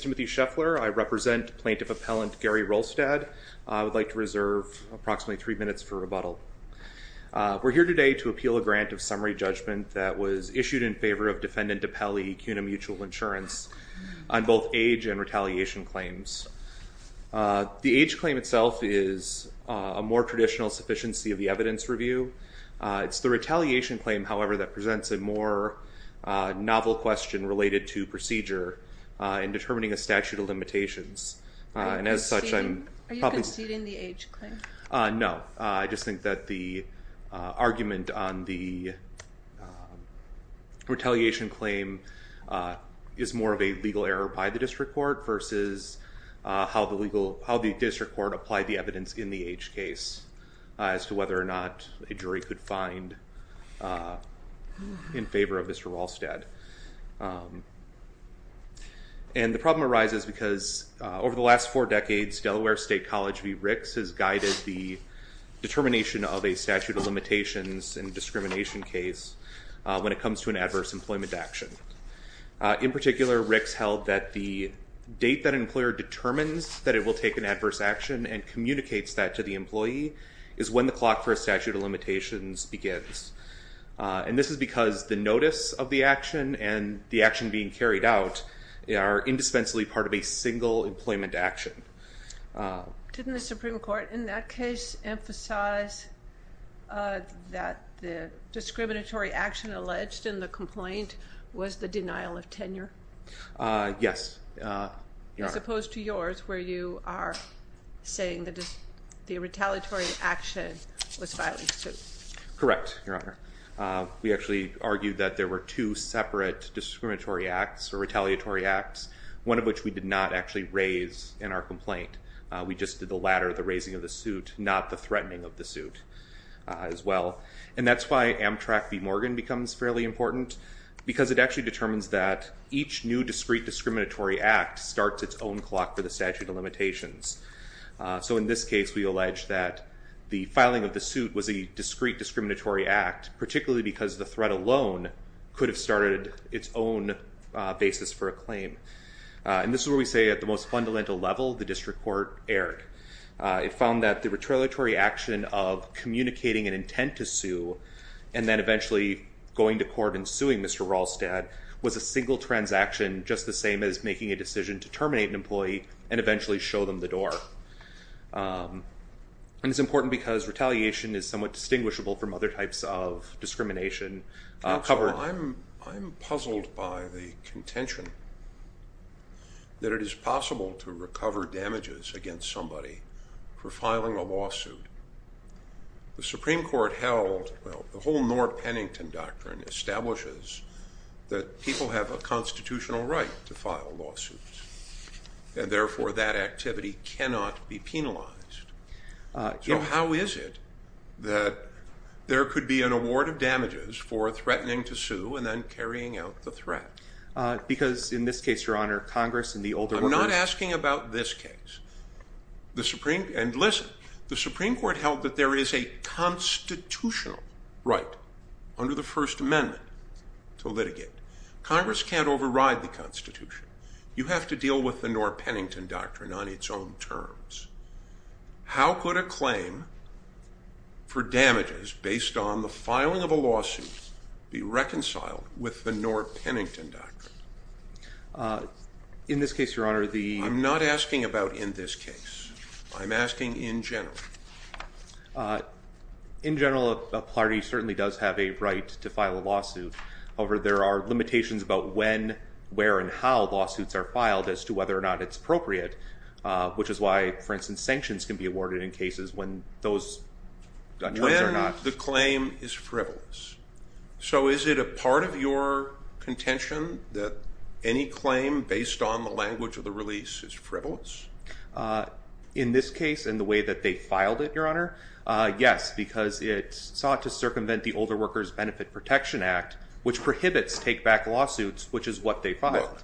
I'm Timothy Scheffler. I represent Plaintiff Appellant Gary Wrolstad. I would like to reserve approximately three minutes for rebuttal. We're here today to appeal a grant of summary judgment that was issued in favor of Defendant DiPelli Cuna Mutual Insurance on both age and retaliation claims. The age claim itself is a more traditional sufficiency of the evidence review. It's the retaliation claim, however, that presents a more novel question related to procedure in determining a statute of limitations and as such I'm... Are you conceding the age claim? No, I just think that the argument on the retaliation claim is more of a legal error by the district court versus how the legal, how the district court applied the evidence in the age case as to whether or not a jury could find in favor of Mr. Wrolstad. And the problem arises because over the last four decades Delaware State College v. Ricks has guided the determination of a statute of limitations and discrimination case when it comes to an adverse employment action. In particular, Ricks held that the date that an employer determines that it will take an adverse action and communicates that to the employee is when the clock for a and the action being carried out are indispensably part of a single employment action. Didn't the Supreme Court in that case emphasize that the discriminatory action alleged in the complaint was the denial of tenure? Yes. As opposed to yours where you are saying that the retaliatory action was two separate discriminatory acts or retaliatory acts, one of which we did not actually raise in our complaint. We just did the latter, the raising of the suit, not the threatening of the suit as well. And that's why Amtrak v. Morgan becomes fairly important because it actually determines that each new discrete discriminatory act starts its own clock for the statute of limitations. So in this case we allege that the filing of the suit was a discrete discriminatory act, particularly because the threat alone could have started its own basis for a claim. And this is where we say at the most fundamental level the district court erred. It found that the retaliatory action of communicating an intent to sue and then eventually going to court and suing Mr. Rolstad was a single transaction just the same as making a decision to terminate an employee and eventually show them the door. And it's from other types of discrimination. I'm puzzled by the contention that it is possible to recover damages against somebody for filing a lawsuit. The Supreme Court held, well the whole Norr Pennington doctrine establishes that people have a constitutional right to file lawsuits and therefore that activity cannot be penalized. So how is it that there could be an award of damages for threatening to sue and then carrying out the threat? Because in this case, your honor, Congress in the older... I'm not asking about this case. The Supreme and listen, the Supreme Court held that there is a constitutional right under the First Amendment to litigate. Congress can't override the Constitution. You have to deal with the Norr Pennington doctrine on its own terms. How could a claim for damages based on the filing of a lawsuit be reconciled with the Norr Pennington doctrine? In this case, your honor, the... I'm not asking about in this case. I'm asking in general. In general, a party certainly does have a right to file a lawsuit. However, there are limitations about when, where, and how lawsuits are filed as to whether or not it's appropriate, which is why, for instance, sanctions can be awarded in cases when those... When the claim is frivolous. So is it a part of your contention that any claim based on the language of the release is frivolous? In this case and the way that they filed it, your honor, yes, because it sought to circumvent the Older Workers Benefit Protection Act, which prohibits take-back lawsuits, which is what they filed.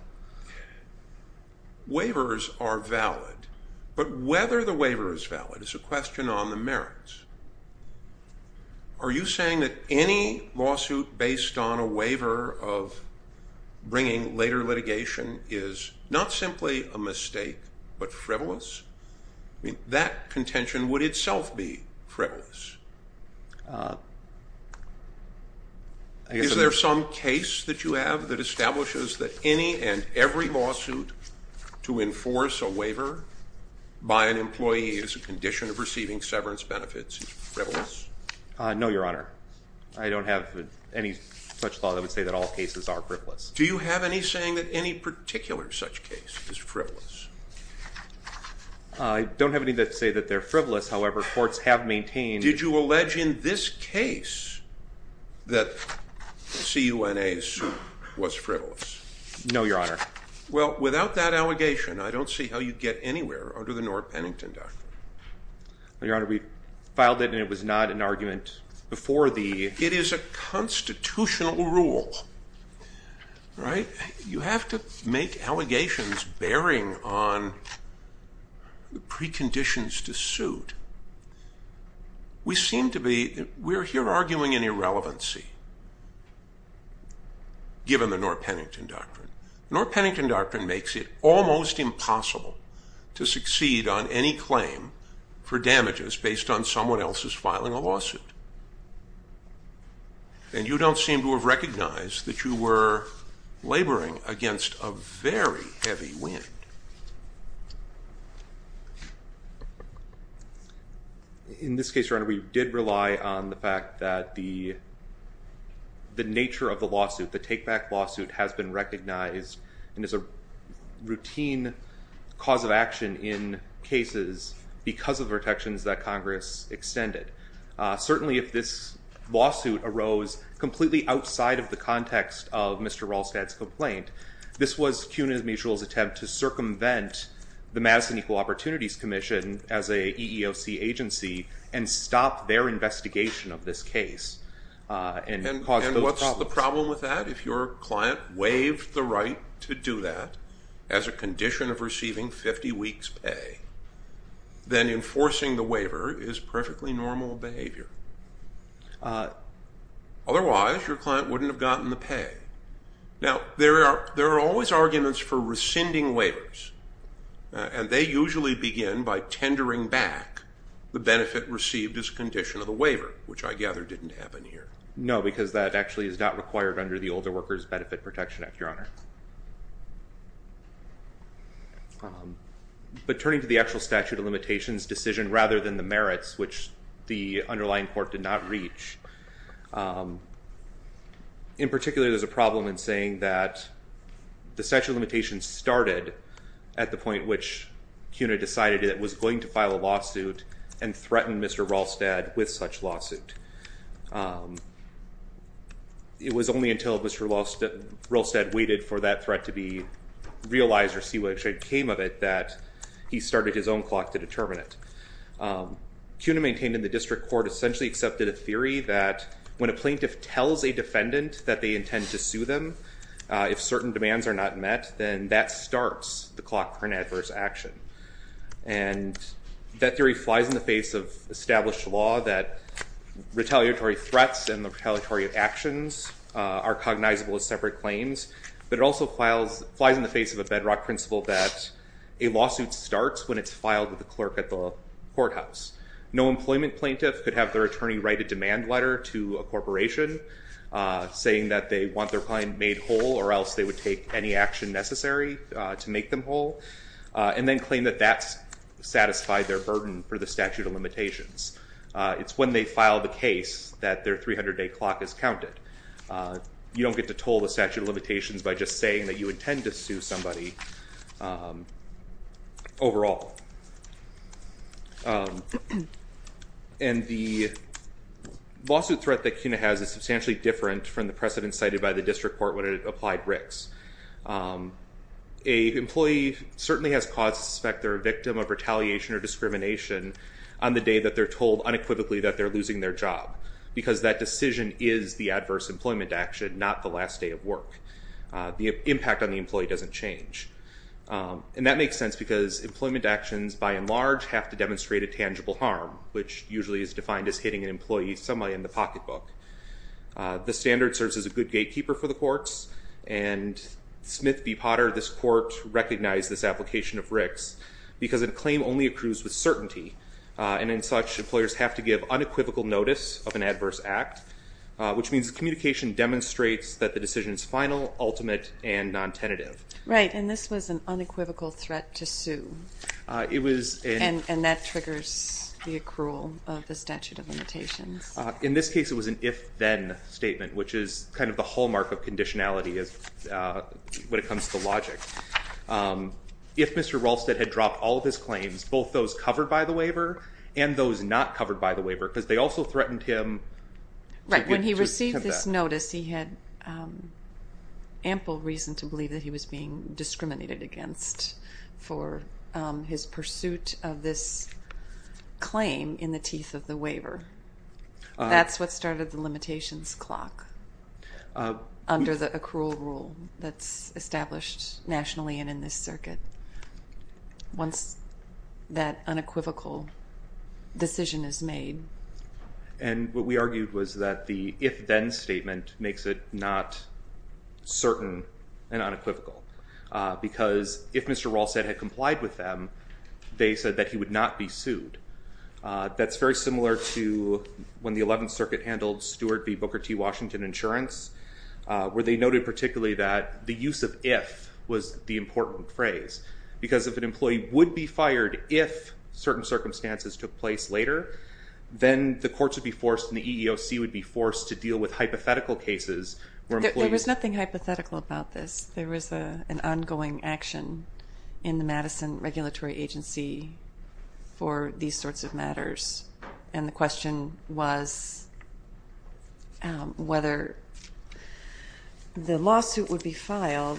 Waivers are valid, but whether the waiver is valid is a question on the merits. Are you saying that any lawsuit based on a waiver of bringing later litigation is not simply a mistake but frivolous? I mean, that contention would itself be frivolous. Is there some case that you have that establishes that any and every lawsuit to enforce a waiver by an employee is a condition of receiving severance benefits is frivolous? No, your honor. I don't have any such law that would say that all cases are frivolous. Do you have any saying that any particular such case is frivolous? I don't have any that say that they're frivolous. However, courts have maintained... that CUNA's was frivolous. No, your honor. Well, without that allegation, I don't see how you'd get anywhere under the Norah Pennington Doctrine. Your honor, we filed it and it was not an argument before the... It is a constitutional rule, right? You have to make allegations bearing on the preconditions to suit. We seem to be... We're here arguing an irrelevancy given the Norah Pennington Doctrine. Norah Pennington Doctrine makes it almost impossible to succeed on any claim for damages based on someone else's filing a lawsuit. And you don't seem to have recognized that you were laboring against a very heavy wind. In this case, your honor, we did rely on the fact that the nature of the lawsuit, the take-back lawsuit, has been recognized and is a routine cause of action in cases because of protections that Congress extended. Certainly, if this lawsuit arose completely outside of the context of Mr. Rolstad's complaint, this was CUNA Mutual's attempt to circumvent the Madison Equal Opportunities Commission as a EEOC agency and stop their investigation of this case. And what's the problem with that? If your client waived the right to do that as a condition of receiving 50 weeks pay, then enforcing the waiver is perfectly normal behavior. Otherwise, your client wouldn't have gotten the pay. Now, there by tendering back the benefit received as a condition of the waiver, which I gather didn't happen here. No, because that actually is not required under the Older Workers Benefit Protection Act, your honor. But turning to the actual statute of limitations decision rather than the merits, which the underlying court did not reach, in particular, there's a problem in saying that the was going to file a lawsuit and threaten Mr. Rolstad with such lawsuit. It was only until Mr. Rolstad waited for that threat to be realized or see what actually came of it that he started his own clock to determine it. CUNA maintained in the district court essentially accepted a theory that when a plaintiff tells a defendant that they intend to sue them, if certain demands are not met, then that starts the clock for an adverse action. And that theory flies in the face of established law that retaliatory threats and the retaliatory actions are cognizable as separate claims, but it also flies in the face of a bedrock principle that a lawsuit starts when it's filed with the clerk at the courthouse. No employment plaintiff could have their attorney write a demand letter to a corporation saying that they want their any action necessary to make them whole and then claim that that's satisfied their burden for the statute of limitations. It's when they file the case that their 300-day clock is counted. You don't get to toll the statute of limitations by just saying that you intend to sue somebody overall. And the lawsuit threat that CUNA has is substantially different from the A employee certainly has cause to suspect they're a victim of retaliation or discrimination on the day that they're told unequivocally that they're losing their job, because that decision is the adverse employment action, not the last day of work. The impact on the employee doesn't change. And that makes sense because employment actions by and large have to demonstrate a tangible harm, which usually is defined as hitting an employee somewhere in the pocketbook. The standard serves as a good gatekeeper for the courts, and Smith v. Potter, this court recognized this application of Rick's because a claim only accrues with certainty, and in such employers have to give unequivocal notice of an adverse act, which means the communication demonstrates that the decision is final, ultimate, and non-tenative. Right, and this was an unequivocal threat to sue. It was and that triggers the accrual of the statute of limitations. In this case it was an if-then statement, which is kind of the hallmark of conditionality as when it comes to logic. If Mr. Rolstad had dropped all of his claims, both those covered by the waiver and those not covered by the waiver, because they also threatened him... Right, when he received this notice he had ample reason to believe that he was being discriminated against for his pursuit of this claim in the teeth of the waiver. That's what started the limitations clock under the accrual rule that's established nationally and in this circuit, once that unequivocal decision is made. And what we argued was that the if-then statement makes it not certain and unequivocal, because if Mr. Rolstad had complied with them, they said that he would not be sued. That's very similar to when the 11th Circuit handled Stewart v. Booker T. Washington insurance, where they noted particularly that the use of if was the important phrase, because if an employee would be fired if certain circumstances took place later, then the courts would be forced and the EEOC would be forced to deal with hypothetical cases... There was nothing hypothetical about this. There was an ongoing action in the Madison Regulatory Agency for these sorts of matters, and the question was whether the lawsuit would be filed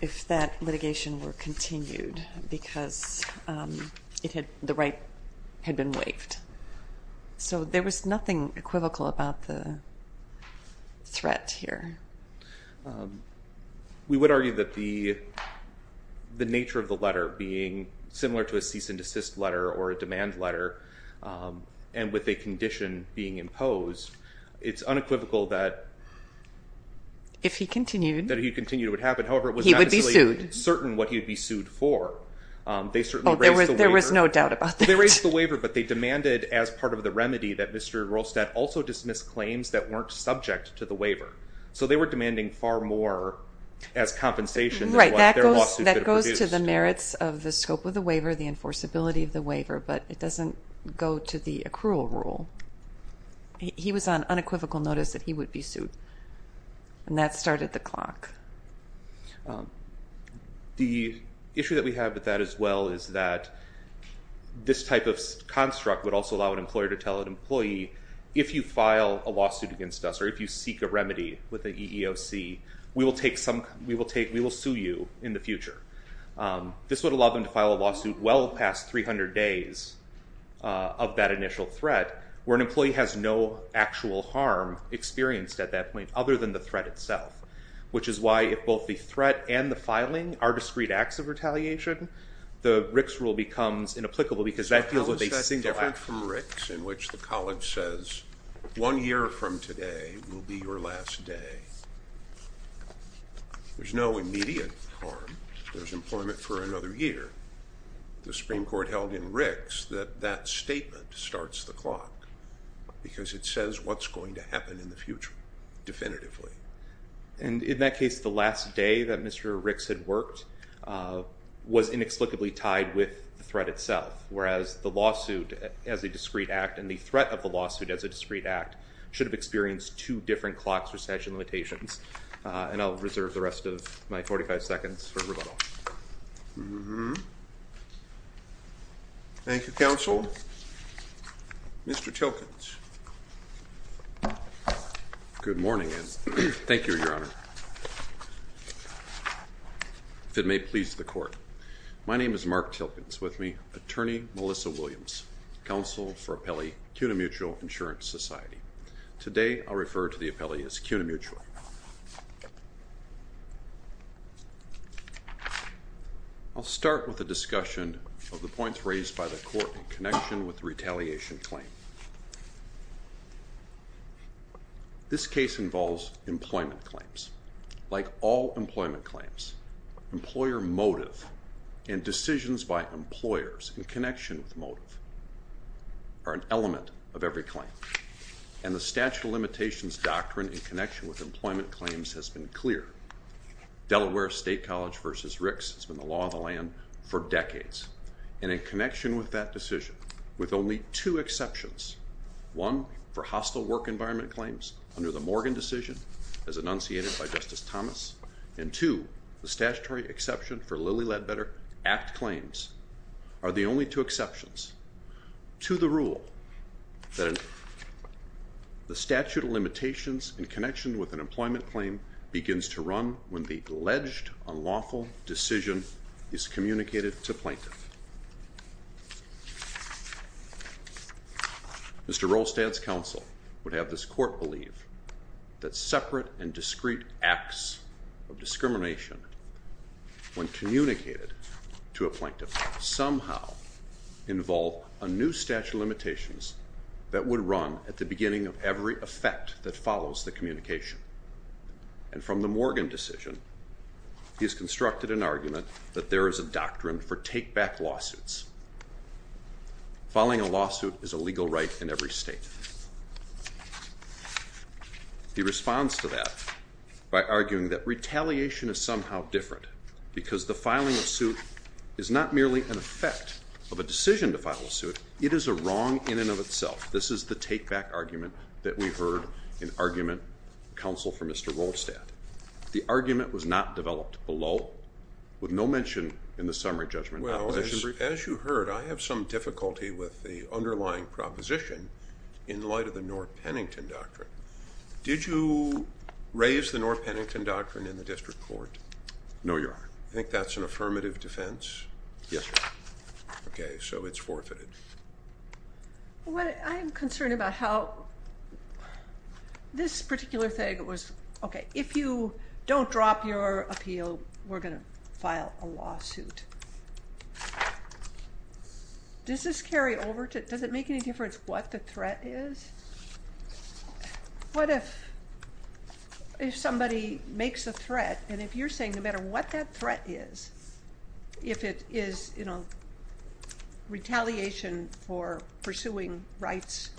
if that litigation were continued, because the right had been waived. So there was nothing equivocal about the threat here. We would argue that the nature of the letter being similar to a cease-and-desist letter or a demand letter, and with a condition being imposed, it's unequivocal that... If he continued. That he continued, it would happen. However, it was not necessarily certain what he would be sued for. There was no doubt about that. They raised the waiver, but they demanded as part of the remedy that Mr. McClain's that weren't subject to the waiver. So they were demanding far more as compensation. Right, that goes to the merits of the scope of the waiver, the enforceability of the waiver, but it doesn't go to the accrual rule. He was on unequivocal notice that he would be sued, and that started the clock. The issue that we have with that as well is that this type of construct would also allow an employer to tell an employee, if you file a lawsuit against us, or if you seek a remedy with the EEOC, we will sue you in the future. This would allow them to file a lawsuit well past 300 days of that initial threat, where an employee has no actual harm experienced at that point other than the threat itself, which is why if both the threat and the filing are discrete acts of retaliation, the Rick's rule becomes inapplicable because that is different from Rick's, in which the college says one year from today will be your last day. There's no immediate harm. There's employment for another year. The Supreme Court held in Rick's that that statement starts the clock, because it says what's going to happen in the future, definitively. And in that case, the last day that Mr. Rick's had worked was inexplicably tied with the threat itself, whereas the lawsuit as a discrete act and the threat of the lawsuit as a discrete act should have experienced two different clocks, recession limitations. And I'll reserve the rest of my 45 seconds for rebuttal. Thank you, counsel. Mr. Tilkens. Good morning, and thank you, your attorney, Melissa Williams, counsel for appellee CUNA Mutual Insurance Society. Today, I'll refer to the appellee as CUNA Mutual. I'll start with a discussion of the points raised by the court in connection with the retaliation claim. This case involves employment claims. Like all employment claims, employer motive and decisions by employers in connection with motive are an element of every claim. And the statute of limitations doctrine in connection with employment claims has been clear. Delaware State College versus Rick's has been the law of the land for decades. And in connection with that decision, with only two exceptions, one for hostile work environment claims under the Morgan decision as enunciated by Justice Thomas, and two, the statutory exception for Lilly Ledbetter Act claims are the only two exceptions to the rule that the statute of limitations in connection with an employment claim begins to run when the alleged unlawful decision is communicated to plaintiff. Mr. Rolstad's court believe that separate and discreet acts of discrimination, when communicated to a plaintiff, somehow involve a new statute of limitations that would run at the beginning of every effect that follows the communication. And from the Morgan decision, he has constructed an argument that there is a doctrine for take-back lawsuits. Filing a lawsuit is a legal right in every state. He responds to that by arguing that retaliation is somehow different because the filing of suit is not merely an effect of a decision to file a suit, it is a wrong in and of itself. This is the take-back argument that we've heard in argument counsel for Mr. Rolstad. The argument was not developed below with no mention in the summary judgment. Well, as you heard, I have some difficulty with the underlying proposition in light of the North Pennington Doctrine. Did you raise the North Pennington Doctrine in the district court? No, Your Honor. I think that's an affirmative defense? Yes, Your Honor. Okay, so it's forfeited. Well, I'm concerned about how this particular thing was, okay, if you don't drop your appeal, we're going to file a lawsuit. Does this carry over to, does it make any difference what the threat is? What if somebody makes a threat and if you're saying no matter what that threat is, if it is, you know, retaliation for pursuing rights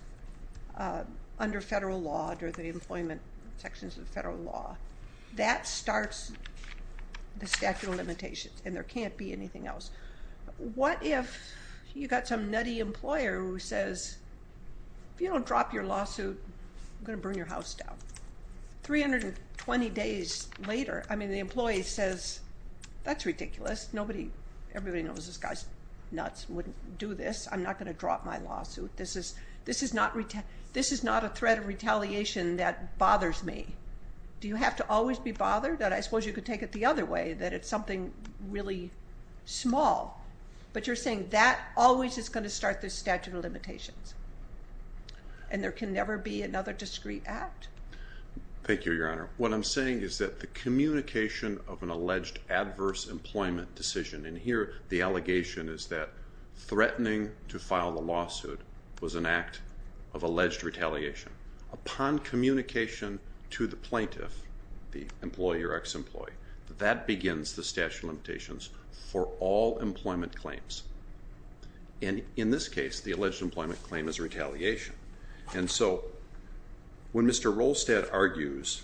under federal law, under the employment sections of federal law, that starts the statute of limitations and there can't be anything else. What if you got some nutty employer who says, if you don't drop your lawsuit, I'm going to burn your house down. 320 days later, I mean, the employee says, that's ridiculous. Nobody, everybody knows this guy's nuts and wouldn't do this. I'm not going to drop my lawsuit. This is, this is not, this is not a threat of retaliation that bothers me. Do you have to always be bothered? I suppose you could take it the other way, that it's something really small, but you're saying that always is going to start the statute of limitations and there can never be another discreet act. Thank you, Your Honor. What I'm saying is that the communication of an alleged adverse employment decision, and here the allegation is that threatening to file the lawsuit was an act of alleged retaliation. Upon communication to the employee or ex-employee, that begins the statute of limitations for all employment claims. And in this case, the alleged employment claim is retaliation. And so, when Mr. Rolstad argues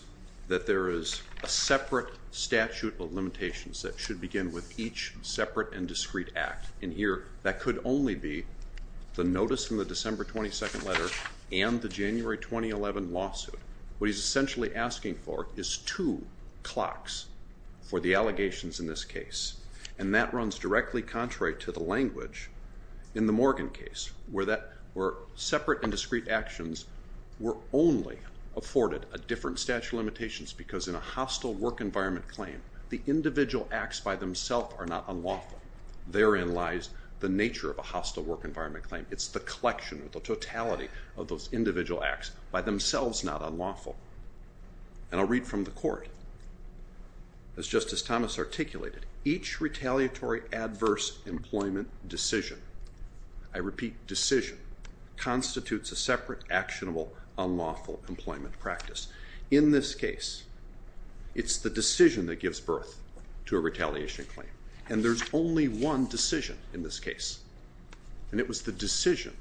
that there is a separate statute of limitations that should begin with each separate and discreet act, and here that could only be the notice in the December 22nd letter and the January 2011 lawsuit. What he's essentially asking for is two clocks for the allegations in this case. And that runs directly contrary to the language in the Morgan case, where that, where separate and discreet actions were only afforded a different statute of limitations because in a hostile work environment claim, the individual acts by themselves are not unlawful. Therein lies the nature of a hostile work environment claim. It's the collection or the totality of those individual acts by themselves not unlawful. And I'll read from the court. As Justice Thomas articulated, each retaliatory adverse employment decision, I repeat decision, constitutes a separate actionable unlawful employment practice. In this case, it's the decision that gives birth to a retaliation claim. And there's only one decision in this case. And it was the decision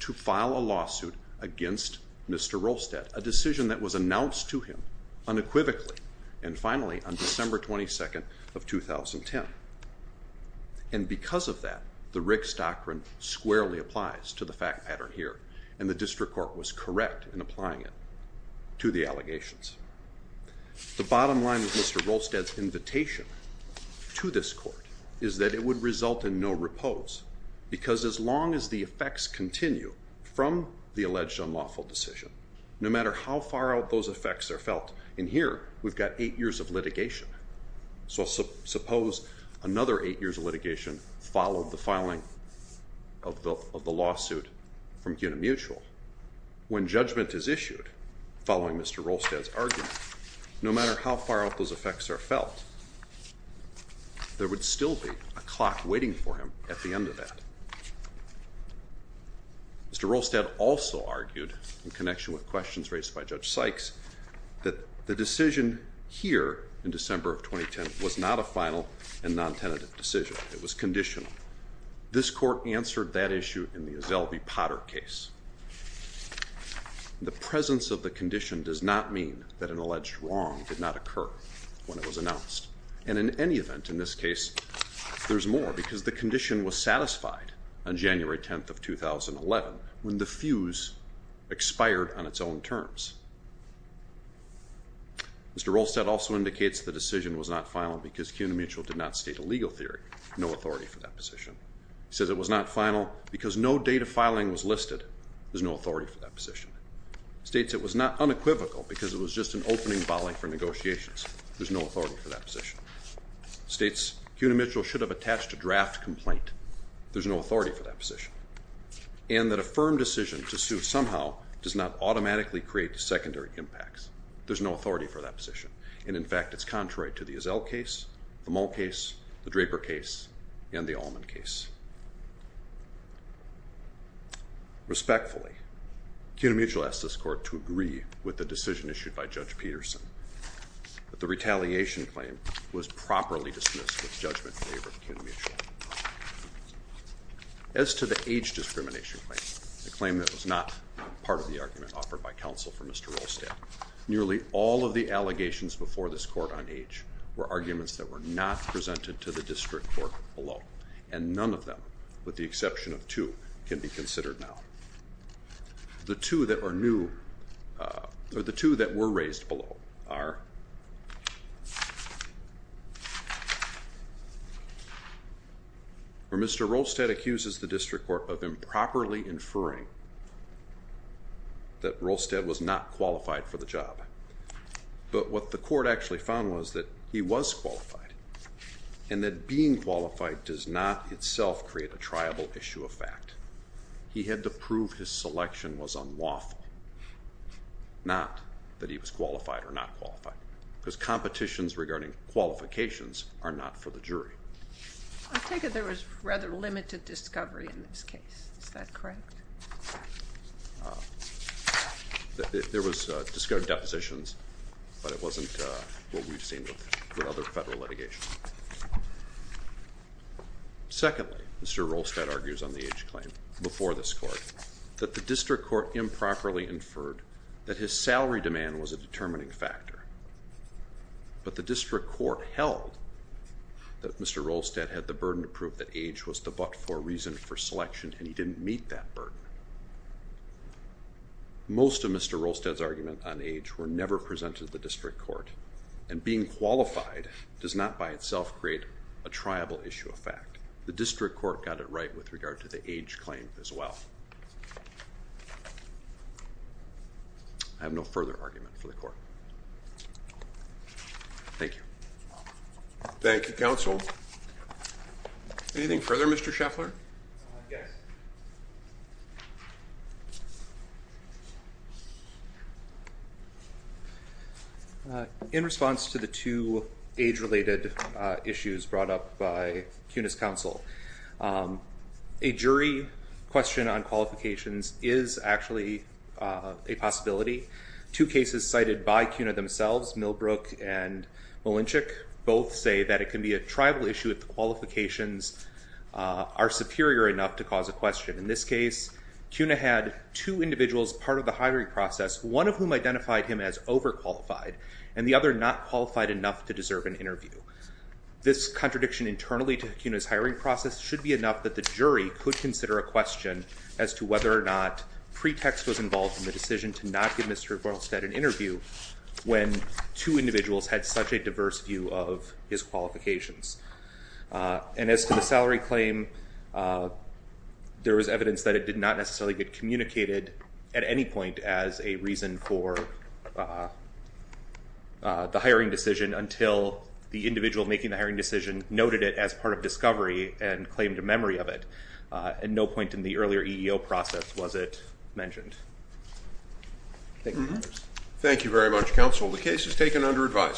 to file a lawsuit against Mr. Rolstad, a decision that was announced to him unequivocally. And finally, on December 22nd of 2010. And because of that, the Riggs doctrine squarely applies to the fact pattern here, and the district court was correct in applying it to the allegations. The bottom line with Mr. Rolstad's invitation to this court is that it would result in no repose, because as No matter how far out those effects are felt in here, we've got eight years of litigation. So suppose another eight years of litigation followed the filing of the lawsuit from Unimutual. When judgment is issued, following Mr. Rolstad's argument, no matter how far out those effects are felt, there would still be a clock waiting for him at the end of that. Mr. Rolstad also argued in connection with questions raised by Judge Sykes, that the decision here in December of 2010 was not a final and non tentative decision. It was conditional. This court answered that issue in the Azelby Potter case. The presence of the condition does not mean that an alleged wrong did not occur when it was announced. And in any event, in this case, there's more, because the condition was satisfied on January 10th of 2011, when the fuse expired on its own terms. Mr. Rolstad also indicates the decision was not final, because Unimutual did not state a legal theory, no authority for that position. He says it was not final, because no date of filing was listed. There's no authority for that position. He states it was not unequivocal, because it was just an opening volley for negotiations. There's no authority for that position. He states Unimutual should have attached a firm decision to sue, somehow, does not automatically create secondary impacts. There's no authority for that position. And in fact, it's contrary to the Azel case, the Mull case, the Draper case, and the Allman case. Respectfully, Unimutual asked this court to agree with the decision issued by Judge Peterson, that the retaliation claim was properly dismissed with a claim that was not part of the argument offered by counsel for Mr. Rolstad. Nearly all of the allegations before this court on age were arguments that were not presented to the district court below, and none of them, with the exception of two, can be considered now. The two that are new, or the two that were raised below are, or Mr. Rolstad accuses the district court of improperly inferring that Rolstad was not qualified for the job. But what the court actually found was that he was qualified, and that being qualified does not itself create a triable issue of fact. He had to prove his selection was unlawful, not that he was qualified or not qualified, because competitions regarding qualifications are not for the jury. I take it there was rather limited discovery in this case. Is that correct? There was discovered depositions, but it wasn't what we've seen with other federal litigation. Secondly, Mr. Rolstad argues on the age claim before this court, that the district court improperly inferred that his salary demand was a determining factor. But the district court held that Mr. Rolstad had the burden to prove that age was the but for reason for selection, and he didn't meet that burden. Most of Mr. Rolstad's argument on age were never presented to the district court, and being qualified does not by itself create a triable issue of fact. The district court got it right with regard to the age claim as well. I have no further argument for the court. Thank you. Thank you, counsel. Anything further, Mr. Scheffler? Yes. In response to the two age related issues brought up by CUNY's counsel, a jury question on qualifications is actually a possibility. Two cases cited by CUNY themselves, Millbrook and Malinchik, both say that it can be a triable issue if the qualifications are superior enough to cause a question. In this case, CUNY had two individuals part of the hiring process, one of whom identified him as overqualified, and the other not qualified enough to deserve an interview. So the hiring process should be enough that the jury could consider a question as to whether or not pretext was involved in the decision to not give Mr. Rolstad an interview when two individuals had such a diverse view of his qualifications. And as to the salary claim, there was evidence that it did not necessarily get communicated at any point as a reason for the hiring decision until the individual making the hiring decision noted it as part of and claimed a memory of it. At no point in the earlier EEO process was it mentioned. Thank you very much, counsel. The case is taken under advisement.